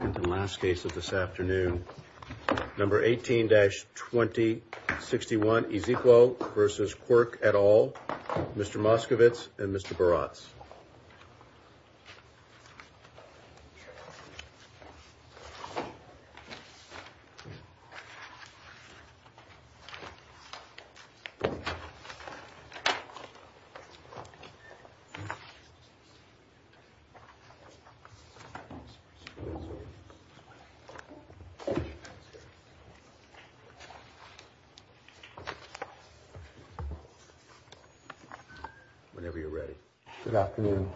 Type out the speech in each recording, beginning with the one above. And the last case of this afternoon, number 18-2061, Ezekwo v. Quirk et al., Mr. Moskowitz and Mr. Barats. Good afternoon.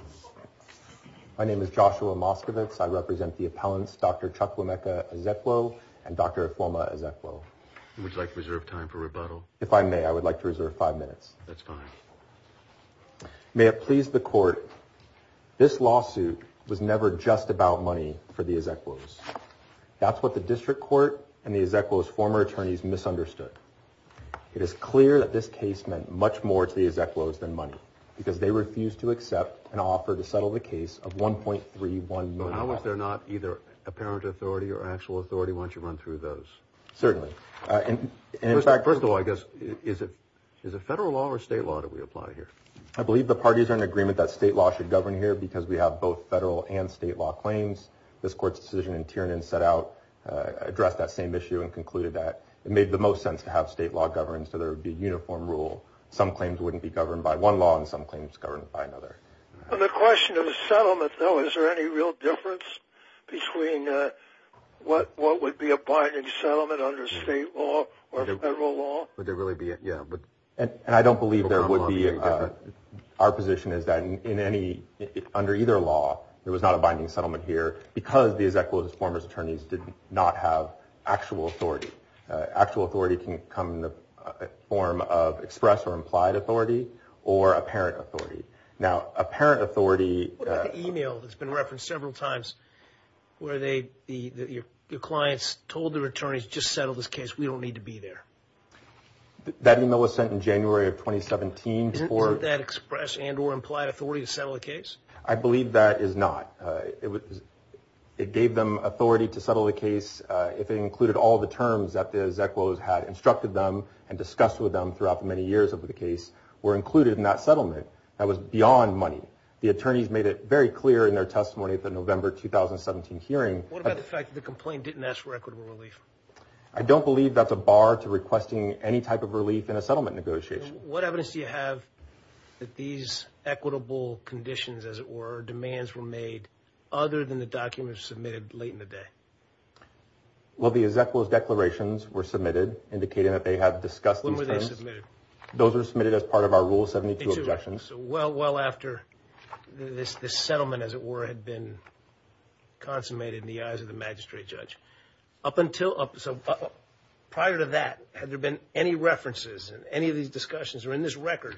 My name is Joshua Moskowitz. I represent the appellants, Dr. Chukwuemeka Ezekwo and Dr. Afoma Ezekwo. Would you like to reserve time for rebuttal? If I may, I would like to reserve five minutes. That's fine. May it please the court, this lawsuit was never just about money for the Ezekwos. That's what the district court and the Ezekwos' former attorneys misunderstood. It is clear that this case meant much more to the Ezekwos than money because they refused to accept an offer to settle the case of 1.31 million dollars. But how much they're not either apparent authority or actual authority once you run through those? Certainly. First of all, I guess, is it federal law or state law that we apply here? I believe the parties are in agreement that state law should govern here because we have both federal and state law claims. This court's decision in Tiernan set out, addressed that same issue and concluded that it made the most sense to have state law govern, so there would be uniform rule. Some claims wouldn't be governed by one law and some claims governed by another. On the question of settlement, though, is there any real difference between what would be a binding settlement under state law or federal law? Would there really be? And I don't believe there would be. Our position is that in any, under either law, there was not a binding settlement here because the Ezekwos' former attorneys did not have actual authority. Actual authority can come in the form of express or implied authority or apparent authority. Now, apparent authority... What about the email that's been referenced several times where your clients told their attorneys, just settle this case, we don't need to be there? That email was sent in January of 2017 for... Isn't that express and or implied authority to settle the case? I believe that is not. It gave them authority to settle the case if it included all the terms that the Ezekwos had instructed them and discussed with them throughout the many years of the case were included in that settlement. That was beyond money. The attorneys made it very clear in their testimony at the November 2017 hearing... What about the fact that the complaint didn't ask for equitable relief? I don't believe that's a bar to requesting any type of relief in a settlement negotiation. Judge, what evidence do you have that these equitable conditions, as it were, demands were made other than the documents submitted late in the day? Well, the Ezekwos' declarations were submitted indicating that they had discussed these terms. When were they submitted? Those were submitted as part of our Rule 72 objections. Well after this settlement, as it were, had been consummated in the eyes of the magistrate judge. Prior to that, had there been any references in any of these discussions or in this record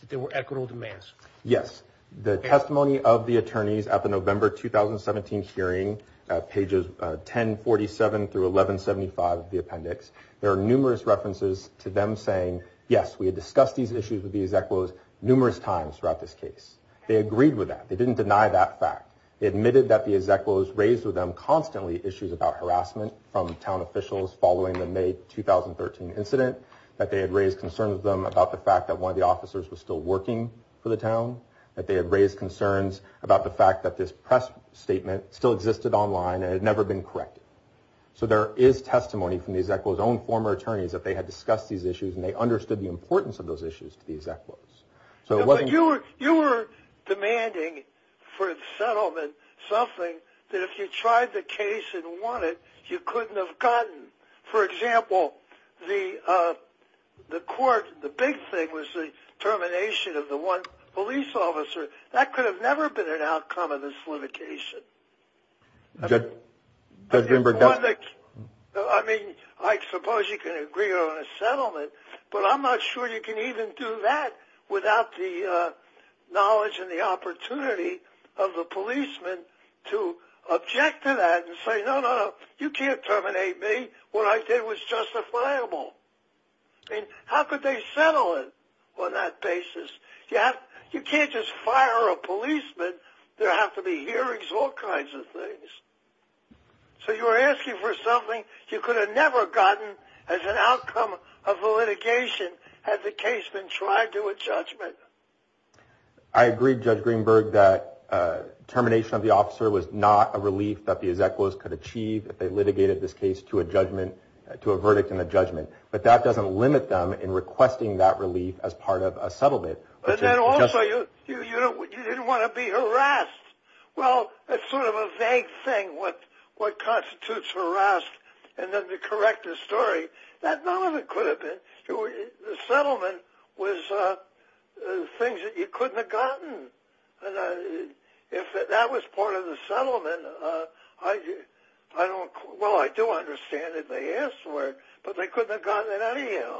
that there were equitable demands? Yes. The testimony of the attorneys at the November 2017 hearing, pages 1047 through 1175 of the appendix, there are numerous references to them saying, yes, we had discussed these issues with the Ezekwos numerous times throughout this case. They agreed with that. They didn't deny that fact. They admitted that the Ezekwos raised with them constantly issues about harassment from town officials following the May 2013 incident, that they had raised concerns with them about the fact that one of the officers was still working for the town, that they had raised concerns about the fact that this press statement still existed online and had never been corrected. So there is testimony from the Ezekwos' own former attorneys that they had discussed these issues and they understood the importance of those issues to the Ezekwos. You were demanding for the settlement something that if you tried the case and won it, you couldn't have gotten. For example, the court, the big thing was the termination of the one police officer. That could have never been an outcome of this litigation. I mean, I suppose you can agree on a settlement, but I'm not sure you can even do that without the knowledge and the opportunity of the policeman to object to that and say, no, no, no, you can't terminate me. What I did was justifiable. I mean, how could they settle it on that basis? You can't just fire a policeman. There have to be hearings, all kinds of things. So you were asking for something you could have never gotten as an outcome of a litigation had the case been tried to a judgment. I agree, Judge Greenberg, that termination of the officer was not a relief that the Ezekwos could achieve if they litigated this case to a verdict and a judgment. But that doesn't limit them in requesting that relief as part of a settlement. But then also, you didn't want to be harassed. Well, that's sort of a vague thing, what constitutes harassed. And then to correct the story, that not only could have been. The settlement was things that you couldn't have gotten. If that was part of the settlement, well, I do understand that they asked for it, but they couldn't have gotten it out of you.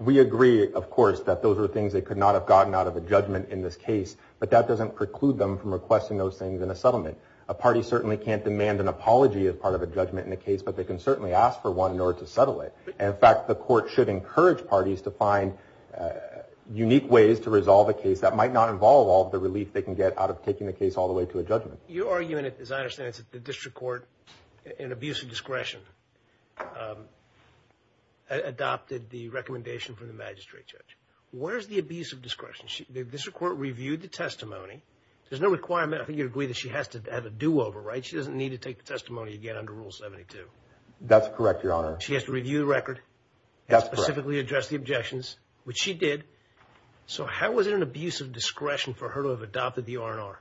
We agree, of course, that those are things they could not have gotten out of a judgment in this case. But that doesn't preclude them from requesting those things in a settlement. A party certainly can't demand an apology as part of a judgment in a case, but they can certainly ask for one in order to settle it. In fact, the court should encourage parties to find unique ways to resolve a case that might not involve all the relief they can get out of taking the case all the way to a judgment. Your argument, as I understand it, is that the district court, in abuse of discretion, adopted the recommendation from the magistrate judge. Where is the abuse of discretion? The district court reviewed the testimony. There's no requirement, I think you'd agree, that she has to have a do-over, right? She doesn't need to take the testimony again under Rule 72. That's correct, Your Honor. She has to review the record. That's correct. And specifically address the objections, which she did. So how was it an abuse of discretion for her to have adopted the R&R?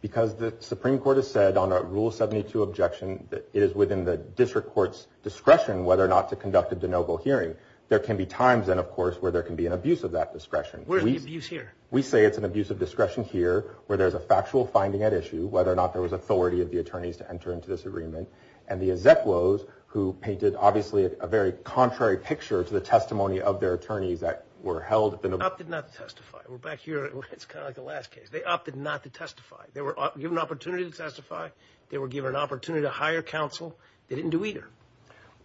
Because the Supreme Court has said on a Rule 72 objection that it is within the district court's discretion whether or not to conduct a de novo hearing. There can be times, then, of course, where there can be an abuse of that discretion. Where is the abuse here? We say it's an abuse of discretion here, where there's a factual finding at issue, whether or not there was authority of the attorneys to enter into this agreement. And the execuose, who painted, obviously, a very contrary picture to the testimony of their attorneys that were held at the... Opted not to testify. We're back here. It's kind of like the last case. They opted not to testify. They were given an opportunity to testify. They were given an opportunity to hire counsel. They didn't do either.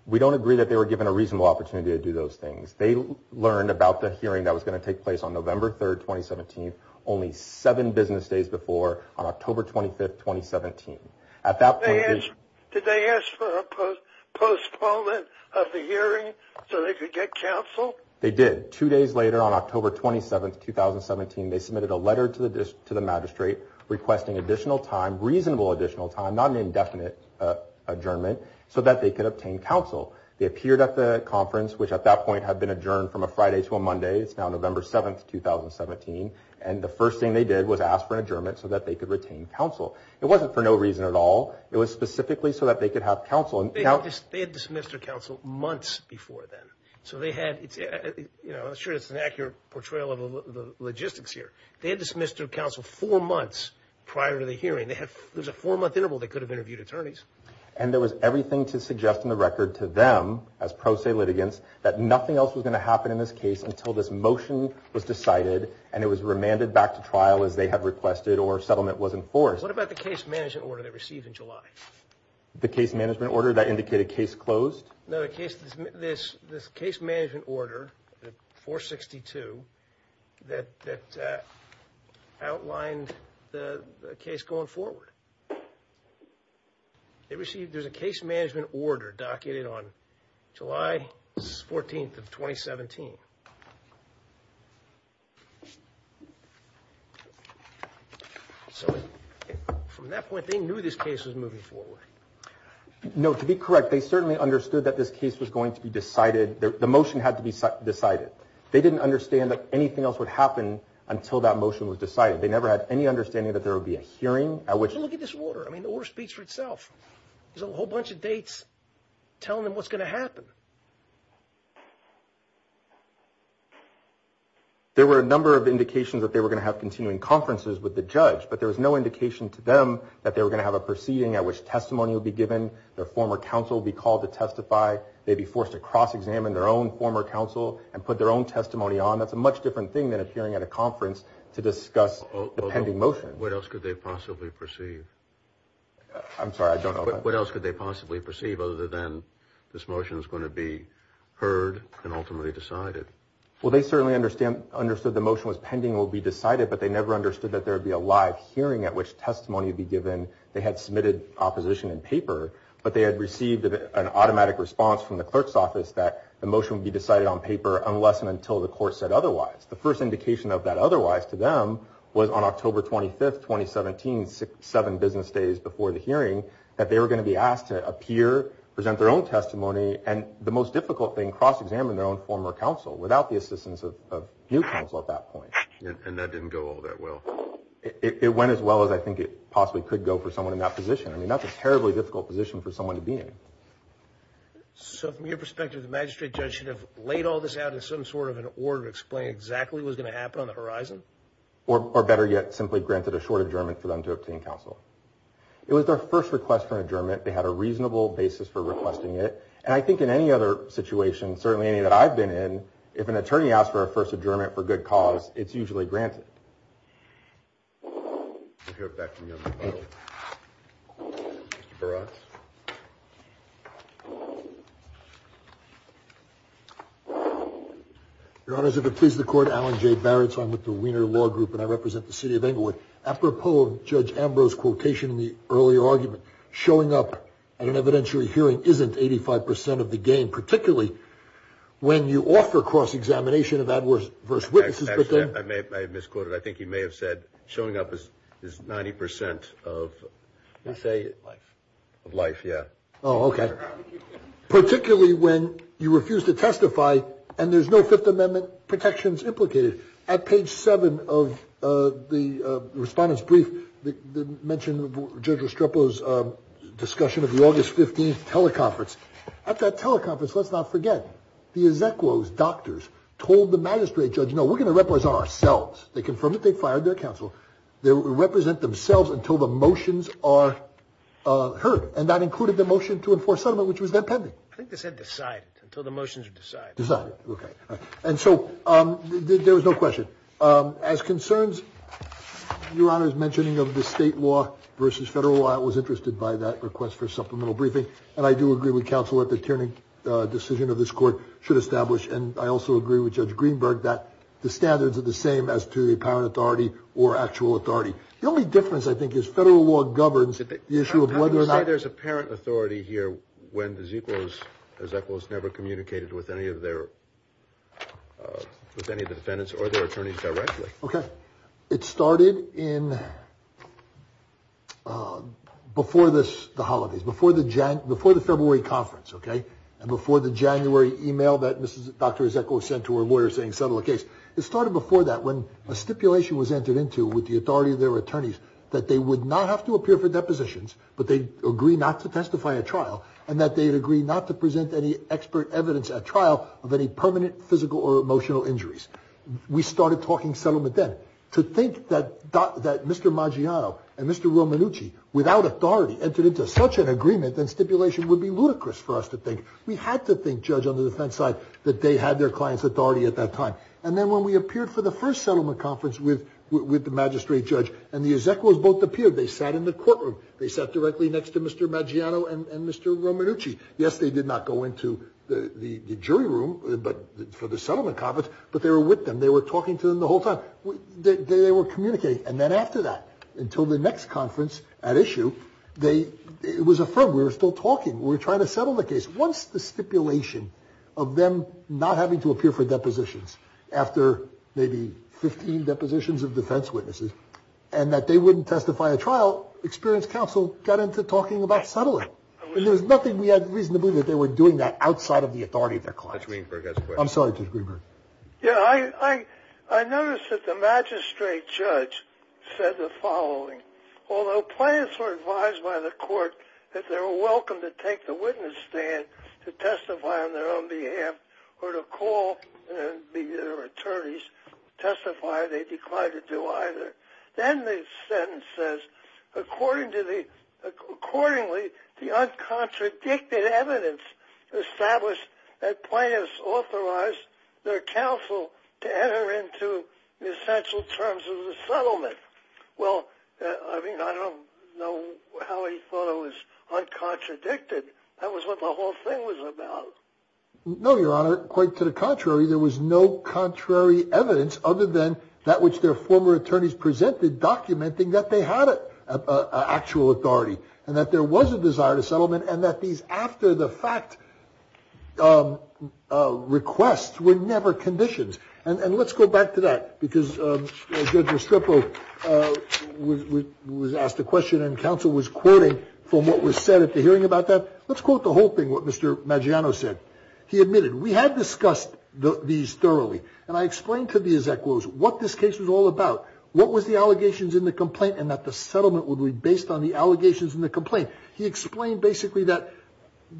We don't agree that they were given a reasonable opportunity to do those things. They learned about the hearing that was going to take place on November 3, 2017, only seven business days before, on October 25, 2017. At that point... Did they ask for a postponement of the hearing so they could get counsel? They did. Two days later, on October 27, 2017, they submitted a letter to the magistrate requesting additional time, reasonable additional time, not an indefinite adjournment, so that they could obtain counsel. They appeared at the conference, which at that point had been adjourned from a Friday to a Monday. It's now November 7, 2017. And the first thing they did was ask for an adjournment so that they could retain counsel. It wasn't for no reason at all. It was specifically so that they could have counsel. They had dismissed their counsel months before then. I'm not sure that's an accurate portrayal of the logistics here. They had dismissed their counsel four months prior to the hearing. There was a four-month interval they could have interviewed attorneys. And there was everything to suggest in the record to them, as pro se litigants, that nothing else was going to happen in this case until this motion was decided and it was remanded back to trial as they had requested or settlement was enforced. What about the case management order they received in July? The case management order that indicated case closed? No, the case management order, 462, that outlined the case going forward. They received a case management order documented on July 14, 2017. So from that point, they knew this case was moving forward. No, to be correct, they certainly understood that this case was going to be decided. The motion had to be decided. They didn't understand that anything else would happen until that motion was decided. They never had any understanding that there would be a hearing. Look at this order. I mean, the order speaks for itself. There's a whole bunch of dates telling them what's going to happen. There were a number of indications that they were going to have continuing conferences with the judge, but there was no indication to them that they were going to have a proceeding at which testimony would be given. Their former counsel would be called to testify. They'd be forced to cross-examine their own former counsel and put their own testimony on. That's a much different thing than appearing at a conference to discuss the pending motion. What else could they possibly perceive? I'm sorry, I don't know. What else could they possibly perceive other than this motion is going to be heard and ultimately decided? Well, they certainly understood the motion was pending and will be decided, but they never understood that there would be a live hearing at which testimony would be given. They had submitted opposition in paper, but they had received an automatic response from the clerk's office that the motion would be decided on paper unless and until the court said otherwise. The first indication of that otherwise to them was on October 25th, 2017, seven business days before the hearing, that they were going to be asked to appear, present their own testimony, and the most difficult thing, cross-examine their own former counsel without the assistance of new counsel at that point. And that didn't go all that well. It went as well as I think it possibly could go for someone in that position. I mean, that's a terribly difficult position for someone to be in. So from your perspective, the magistrate judge should have laid all this out in some sort of an order to explain exactly what was going to happen on the horizon? Or better yet, simply granted a short adjournment for them to obtain counsel. It was their first request for an adjournment. They had a reasonable basis for requesting it. And I think in any other situation, certainly any that I've been in, if an attorney asks for a first adjournment for good cause, it's usually granted. We'll hear it back from the other panel. Mr. Barats. Your Honors, if it pleases the Court, Alan J. Barats. I'm with the Wiener Law Group, and I represent the city of Englewood. Apropos of Judge Ambrose's quotation in the earlier argument, showing up at an evidentiary hearing isn't 85% of the game, particularly when you offer cross-examination of adverse witnesses. I misquoted. I think he may have said showing up is 90% of, let me say, of life, yeah. Oh, okay. Particularly when you refuse to testify and there's no Fifth Amendment protections implicated. At page 7 of the Respondent's Brief, they mention Judge Restrepo's discussion of the August 15th teleconference. At that teleconference, let's not forget, the Ezekiel's doctors told the magistrate judge, no, we're going to represent ourselves. They confirmed it. They fired their counsel. They will represent themselves until the motions are heard, and that included the motion to enforce settlement, which was then pending. I think they said decided, until the motions are decided. Decided, okay. And so there was no question. As concerns Your Honors' mentioning of the state law versus federal law, I was interested by that request for a supplemental briefing, and I do agree with counsel that the Tierney decision of this court should establish, and I also agree with Judge Greenberg, that the standards are the same as to the apparent authority or actual authority. The only difference, I think, is federal law governs the issue of whether or not. How can you say there's apparent authority here when the Ezekiel's never communicated with any of the defendants or their attorneys directly? Okay. It started before the holidays, before the February conference, okay, and before the January email that Dr. Ezekiel sent to her lawyer saying settle the case. It started before that when a stipulation was entered into with the authority of their attorneys that they would not have to appear for depositions, but they'd agree not to testify at trial, and that they'd agree not to present any expert evidence at trial of any permanent physical or emotional injuries. We started talking settlement then. To think that Mr. Maggiano and Mr. Romanucci, without authority, entered into such an agreement and stipulation would be ludicrous for us to think. We had to think, Judge, on the defense side, that they had their client's authority at that time, and then when we appeared for the first settlement conference with the magistrate judge and the Ezekiel's both appeared, they sat in the courtroom. They sat directly next to Mr. Maggiano and Mr. Romanucci. Yes, they did not go into the jury room for the settlement conference, but they were with them. They were talking to them the whole time. They were communicating, and then after that, until the next conference at issue, it was affirmed. We were still talking. We were trying to settle the case. Once the stipulation of them not having to appear for depositions after maybe 15 depositions of defense witnesses, and that they wouldn't testify at trial, experience counsel got into talking about settlement. There was nothing we had reason to believe that they were doing that outside of the authority of their client. Judge Greenberg has a question. I'm sorry, Judge Greenberg. Yeah, I noticed that the magistrate judge said the following, although clients were advised by the court that they were welcome to take the witness stand to testify on their own behalf or to call their attorneys to testify, they declined to do either. Then the sentence says, Accordingly, the uncontradicted evidence established that clients authorized their counsel to enter into the essential terms of the settlement. Well, I mean, I don't know how he thought it was uncontradicted. That was what the whole thing was about. No, Your Honor, quite to the contrary. There was no contrary evidence other than that which their former attorneys presented in documenting that they had actual authority and that there was a desire to settlement and that these after-the-fact requests were never conditioned. And let's go back to that because Judge Restrepo was asked a question and counsel was quoting from what was said at the hearing about that. Let's quote the whole thing, what Mr. Maggiano said. He admitted, We had discussed these thoroughly, and I explained to the Ezekiels what this case was all about, what was the allegations in the complaint, and that the settlement would be based on the allegations in the complaint. He explained basically that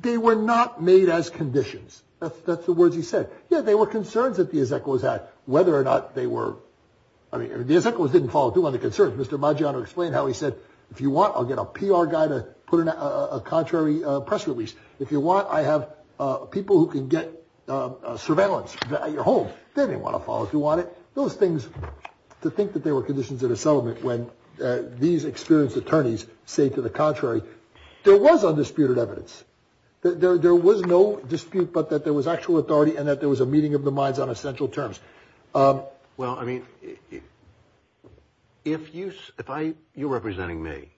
they were not made as conditions. That's the words he said. Yeah, there were concerns that the Ezekiels had, whether or not they were. I mean, the Ezekiels didn't follow through on the concerns. Mr. Maggiano explained how he said, If you want, I'll get a PR guy to put in a contrary press release. If you want, I have people who can get surveillance at your home. They didn't want to follow through on it. Those things, to think that they were conditions of the settlement when these experienced attorneys say to the contrary, There was undisputed evidence. There was no dispute but that there was actual authority and that there was a meeting of the minds on essential terms. Well, I mean, if you're representing me,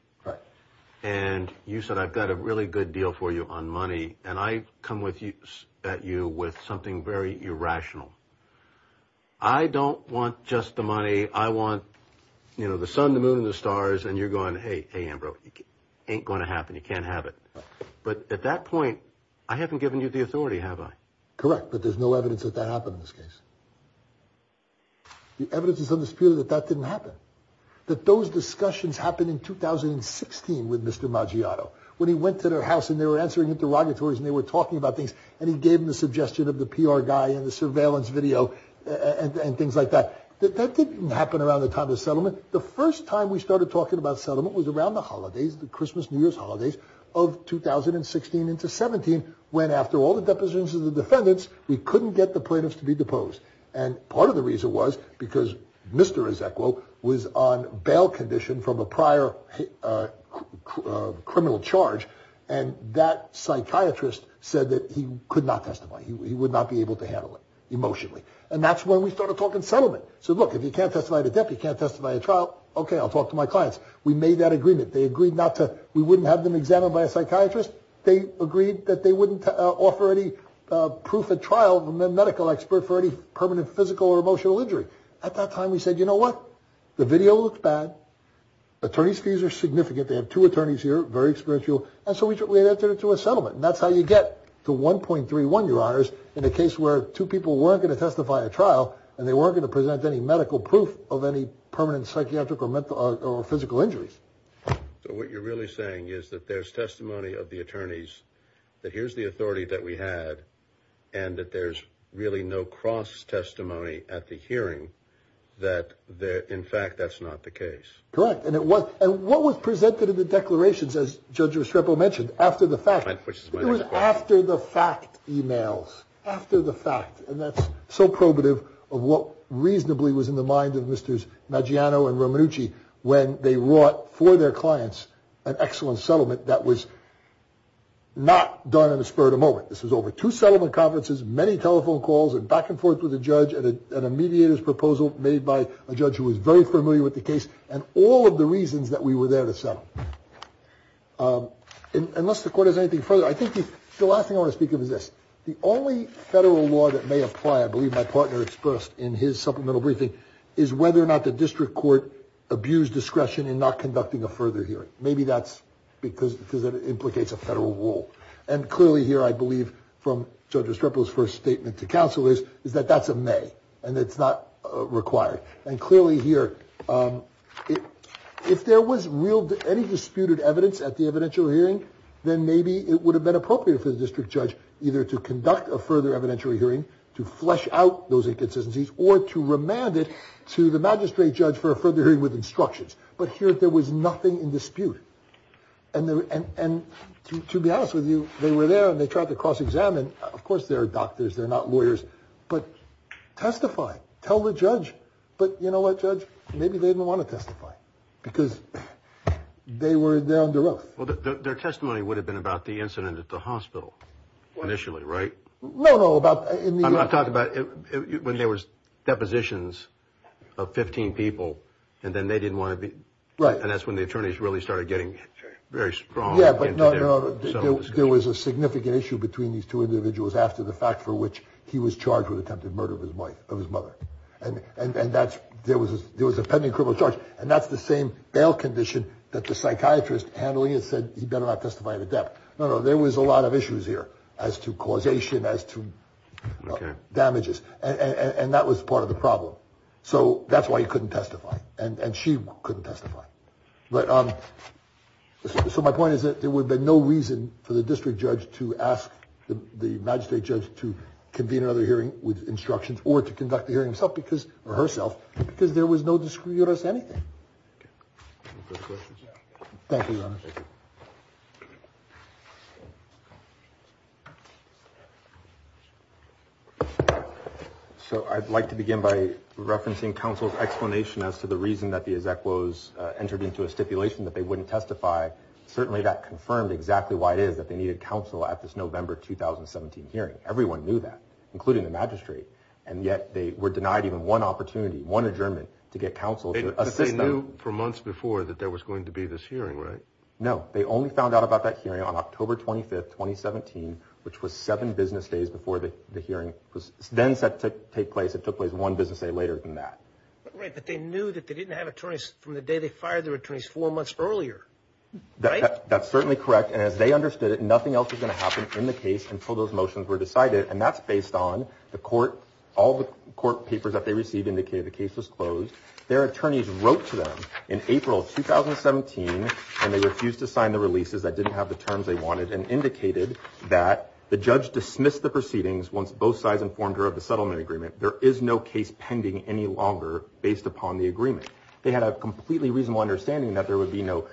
and you said I've got a really good deal for you on money, and I come at you with something very irrational, I don't want just the money. I want, you know, the sun, the moon, and the stars. And you're going, hey, hey, Ambrose, it ain't going to happen. You can't have it. But at that point, I haven't given you the authority, have I? Correct. But there's no evidence that that happened in this case. The evidence is undisputed that that didn't happen, that those discussions happened in 2016 with Mr. Maggiano. When he went to their house and they were answering interrogatories and they were talking about things, and he gave them the suggestion of the PR guy and the surveillance video and things like that. That didn't happen around the time of the settlement. The first time we started talking about settlement was around the holidays, the Christmas, New Year's holidays of 2016 into 17, when, after all the depositions of the defendants, we couldn't get the plaintiffs to be deposed. And part of the reason was because Mr. Ezequiel was on bail condition from a prior criminal charge, and that psychiatrist said that he could not testify. He would not be able to handle it emotionally. And that's when we started talking settlement. I said, look, if you can't testify at a depth, you can't testify at trial, okay, I'll talk to my clients. We made that agreement. They agreed not to – we wouldn't have them examined by a psychiatrist. They agreed that they wouldn't offer any proof at trial of a medical expert for any permanent physical or emotional injury. At that time, we said, you know what? The video looked bad. Attorney's fees are significant. They have two attorneys here, very experiential. And so we entered into a settlement. And that's how you get to 1.31, Your Honors, in a case where two people weren't going to testify at trial and they weren't going to present any medical proof of any permanent psychiatric or physical injuries. So what you're really saying is that there's testimony of the attorneys that here's the authority that we had and that there's really no cross-testimony at the hearing that, in fact, that's not the case. Correct. And it was. And what was presented in the declarations, as Judge Restrepo mentioned, after the fact, it was after-the-fact emails, after-the-fact. And that's so probative of what reasonably was in the minds of Mr. Maggiano and Romanucci when they wrought for their clients an excellent settlement that was not done in the spur of the moment. This was over two settlement conferences, many telephone calls, and back and forth with the judge, and a mediator's proposal made by a judge who was very familiar with the case. And all of the reasons that we were there to settle. Unless the court has anything further, I think the last thing I want to speak of is this. The only federal law that may apply, I believe my partner expressed in his supplemental briefing, is whether or not the district court abused discretion in not conducting a further hearing. Maybe that's because it implicates a federal role. And clearly here I believe from Judge Restrepo's first statement to counsel is that that's a may and it's not required. And clearly here, if there was any disputed evidence at the evidential hearing, then maybe it would have been appropriate for the district judge either to conduct a further evidential hearing to flesh out those inconsistencies or to remand it to the magistrate judge for a further hearing with instructions. But here there was nothing in dispute. And to be honest with you, they were there and they tried to cross-examine. Of course, they're doctors, they're not lawyers. But testify. Tell the judge. But you know what, Judge, maybe they didn't want to testify because they were down to earth. Their testimony would have been about the incident at the hospital initially, right? No, no. I'm talking about when there was depositions of 15 people and then they didn't want to be. Right. And that's when the attorneys really started getting very strong. Yeah, but there was a significant issue between these two individuals after the fact for which he was charged with attempted murder of his wife, of his mother. And that's there was there was a pending criminal charge. And that's the same bail condition that the psychiatrist handling it said he better not testify to that. No, no. There was a lot of issues here as to causation, as to damages. And that was part of the problem. So that's why he couldn't testify. And she couldn't testify. But so my point is that there would be no reason for the district judge to ask the magistrate judge to convene another hearing with instructions or to conduct the hearing himself because or herself because there was no discreet us anything. Thank you. Thank you. So I'd like to begin by referencing counsel's explanation as to the reason that the exec was entered into a stipulation that they wouldn't testify. Certainly that confirmed exactly why it is that they needed counsel at this November 2017 hearing. Everyone knew that, including the magistrate. And yet they were denied even one opportunity, one adjournment to get counsel. For months before that, there was going to be this hearing, right? No, they only found out about that hearing on October 25th, 2017, which was seven business days before the hearing was then set to take place. It took place one business day later than that. Right. But they knew that they didn't have attorneys from the day they fired their attorneys four months earlier. That's certainly correct. And as they understood it, nothing else is going to happen in the case until those motions were decided. And that's based on the court. All the court papers that they received indicated the case was closed. Their attorneys wrote to them in April 2017, and they refused to sign the releases that didn't have the terms they wanted and indicated that the judge dismissed the proceedings once both sides informed her of the settlement agreement. There is no case pending any longer based upon the agreement. They had a completely reasonable understanding that there would be no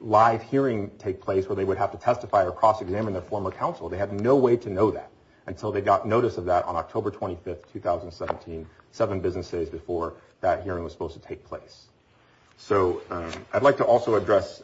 live hearing take place where they would have to testify or cross-examine their former counsel. They had no way to know that until they got notice of that on October 25th, 2017, seven business days before that hearing was supposed to take place. So I'd like to also address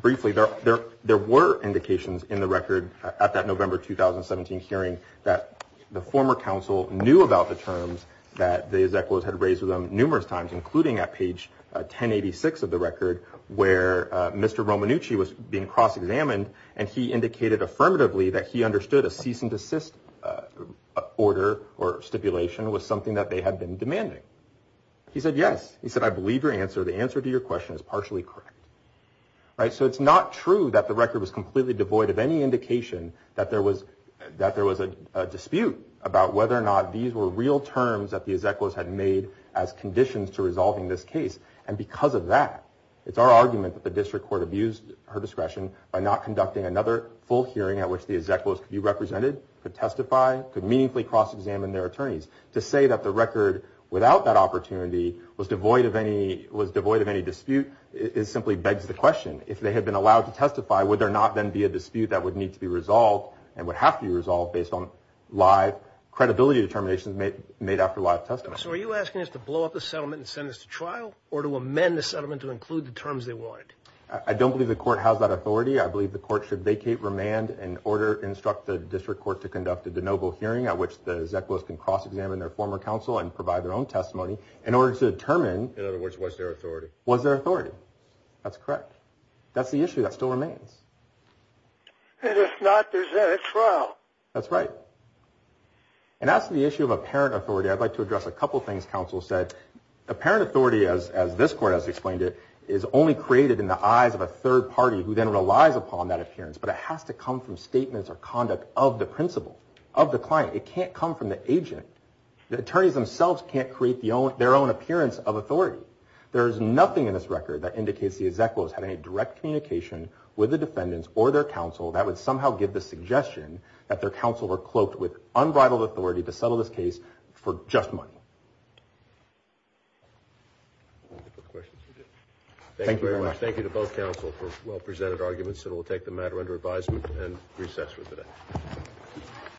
briefly, there were indications in the record at that November 2017 hearing that the former counsel knew about the terms that the Zeclos had raised with them numerous times, including at page 1086 of the record, where Mr. Romanucci was being cross-examined, and he indicated affirmatively that he understood a cease and desist order or stipulation was something that they had been demanding. He said, yes. He said, I believe your answer. The answer to your question is partially correct. Right. So it's not true that the record was completely devoid of any indication that there was that there was a dispute about whether or not these were real terms that the Zeclos had made as conditions to resolving this case. And because of that, it's our argument that the district court abused her discretion by not conducting another full hearing at which the Zeclos could be represented, could testify, could meaningfully cross-examine their attorneys. To say that the record, without that opportunity, was devoid of any dispute simply begs the question. If they had been allowed to testify, would there not then be a dispute that would need to be resolved and would have to be resolved based on live credibility determinations made after live testimony? So are you asking us to blow up the settlement and send this to trial or to amend the settlement to include the terms they wanted? I don't believe the court has that authority. I believe the court should vacate, remand, and order, instruct the district court to conduct a de novo hearing at which the Zeclos can cross-examine their former counsel and provide their own testimony in order to determine. In other words, was there authority? Was there authority. That's correct. That's the issue that still remains. And if not, there's then a trial. That's right. And as to the issue of apparent authority, I'd like to address a couple things counsel said. Apparent authority, as this court has explained it, is only created in the eyes of a third party who then relies upon that appearance, but it has to come from statements or conduct of the principal, of the client. It can't come from the agent. The attorneys themselves can't create their own appearance of authority. There is nothing in this record that indicates the Zeclos had any direct communication with the defendants or their counsel that would somehow give the suggestion that their counsel were cloaked with unbridled authority to settle this case for just money. Thank you very much. Thank you to both counsel for well-presented arguments. And we'll take the matter under advisement and recess for today.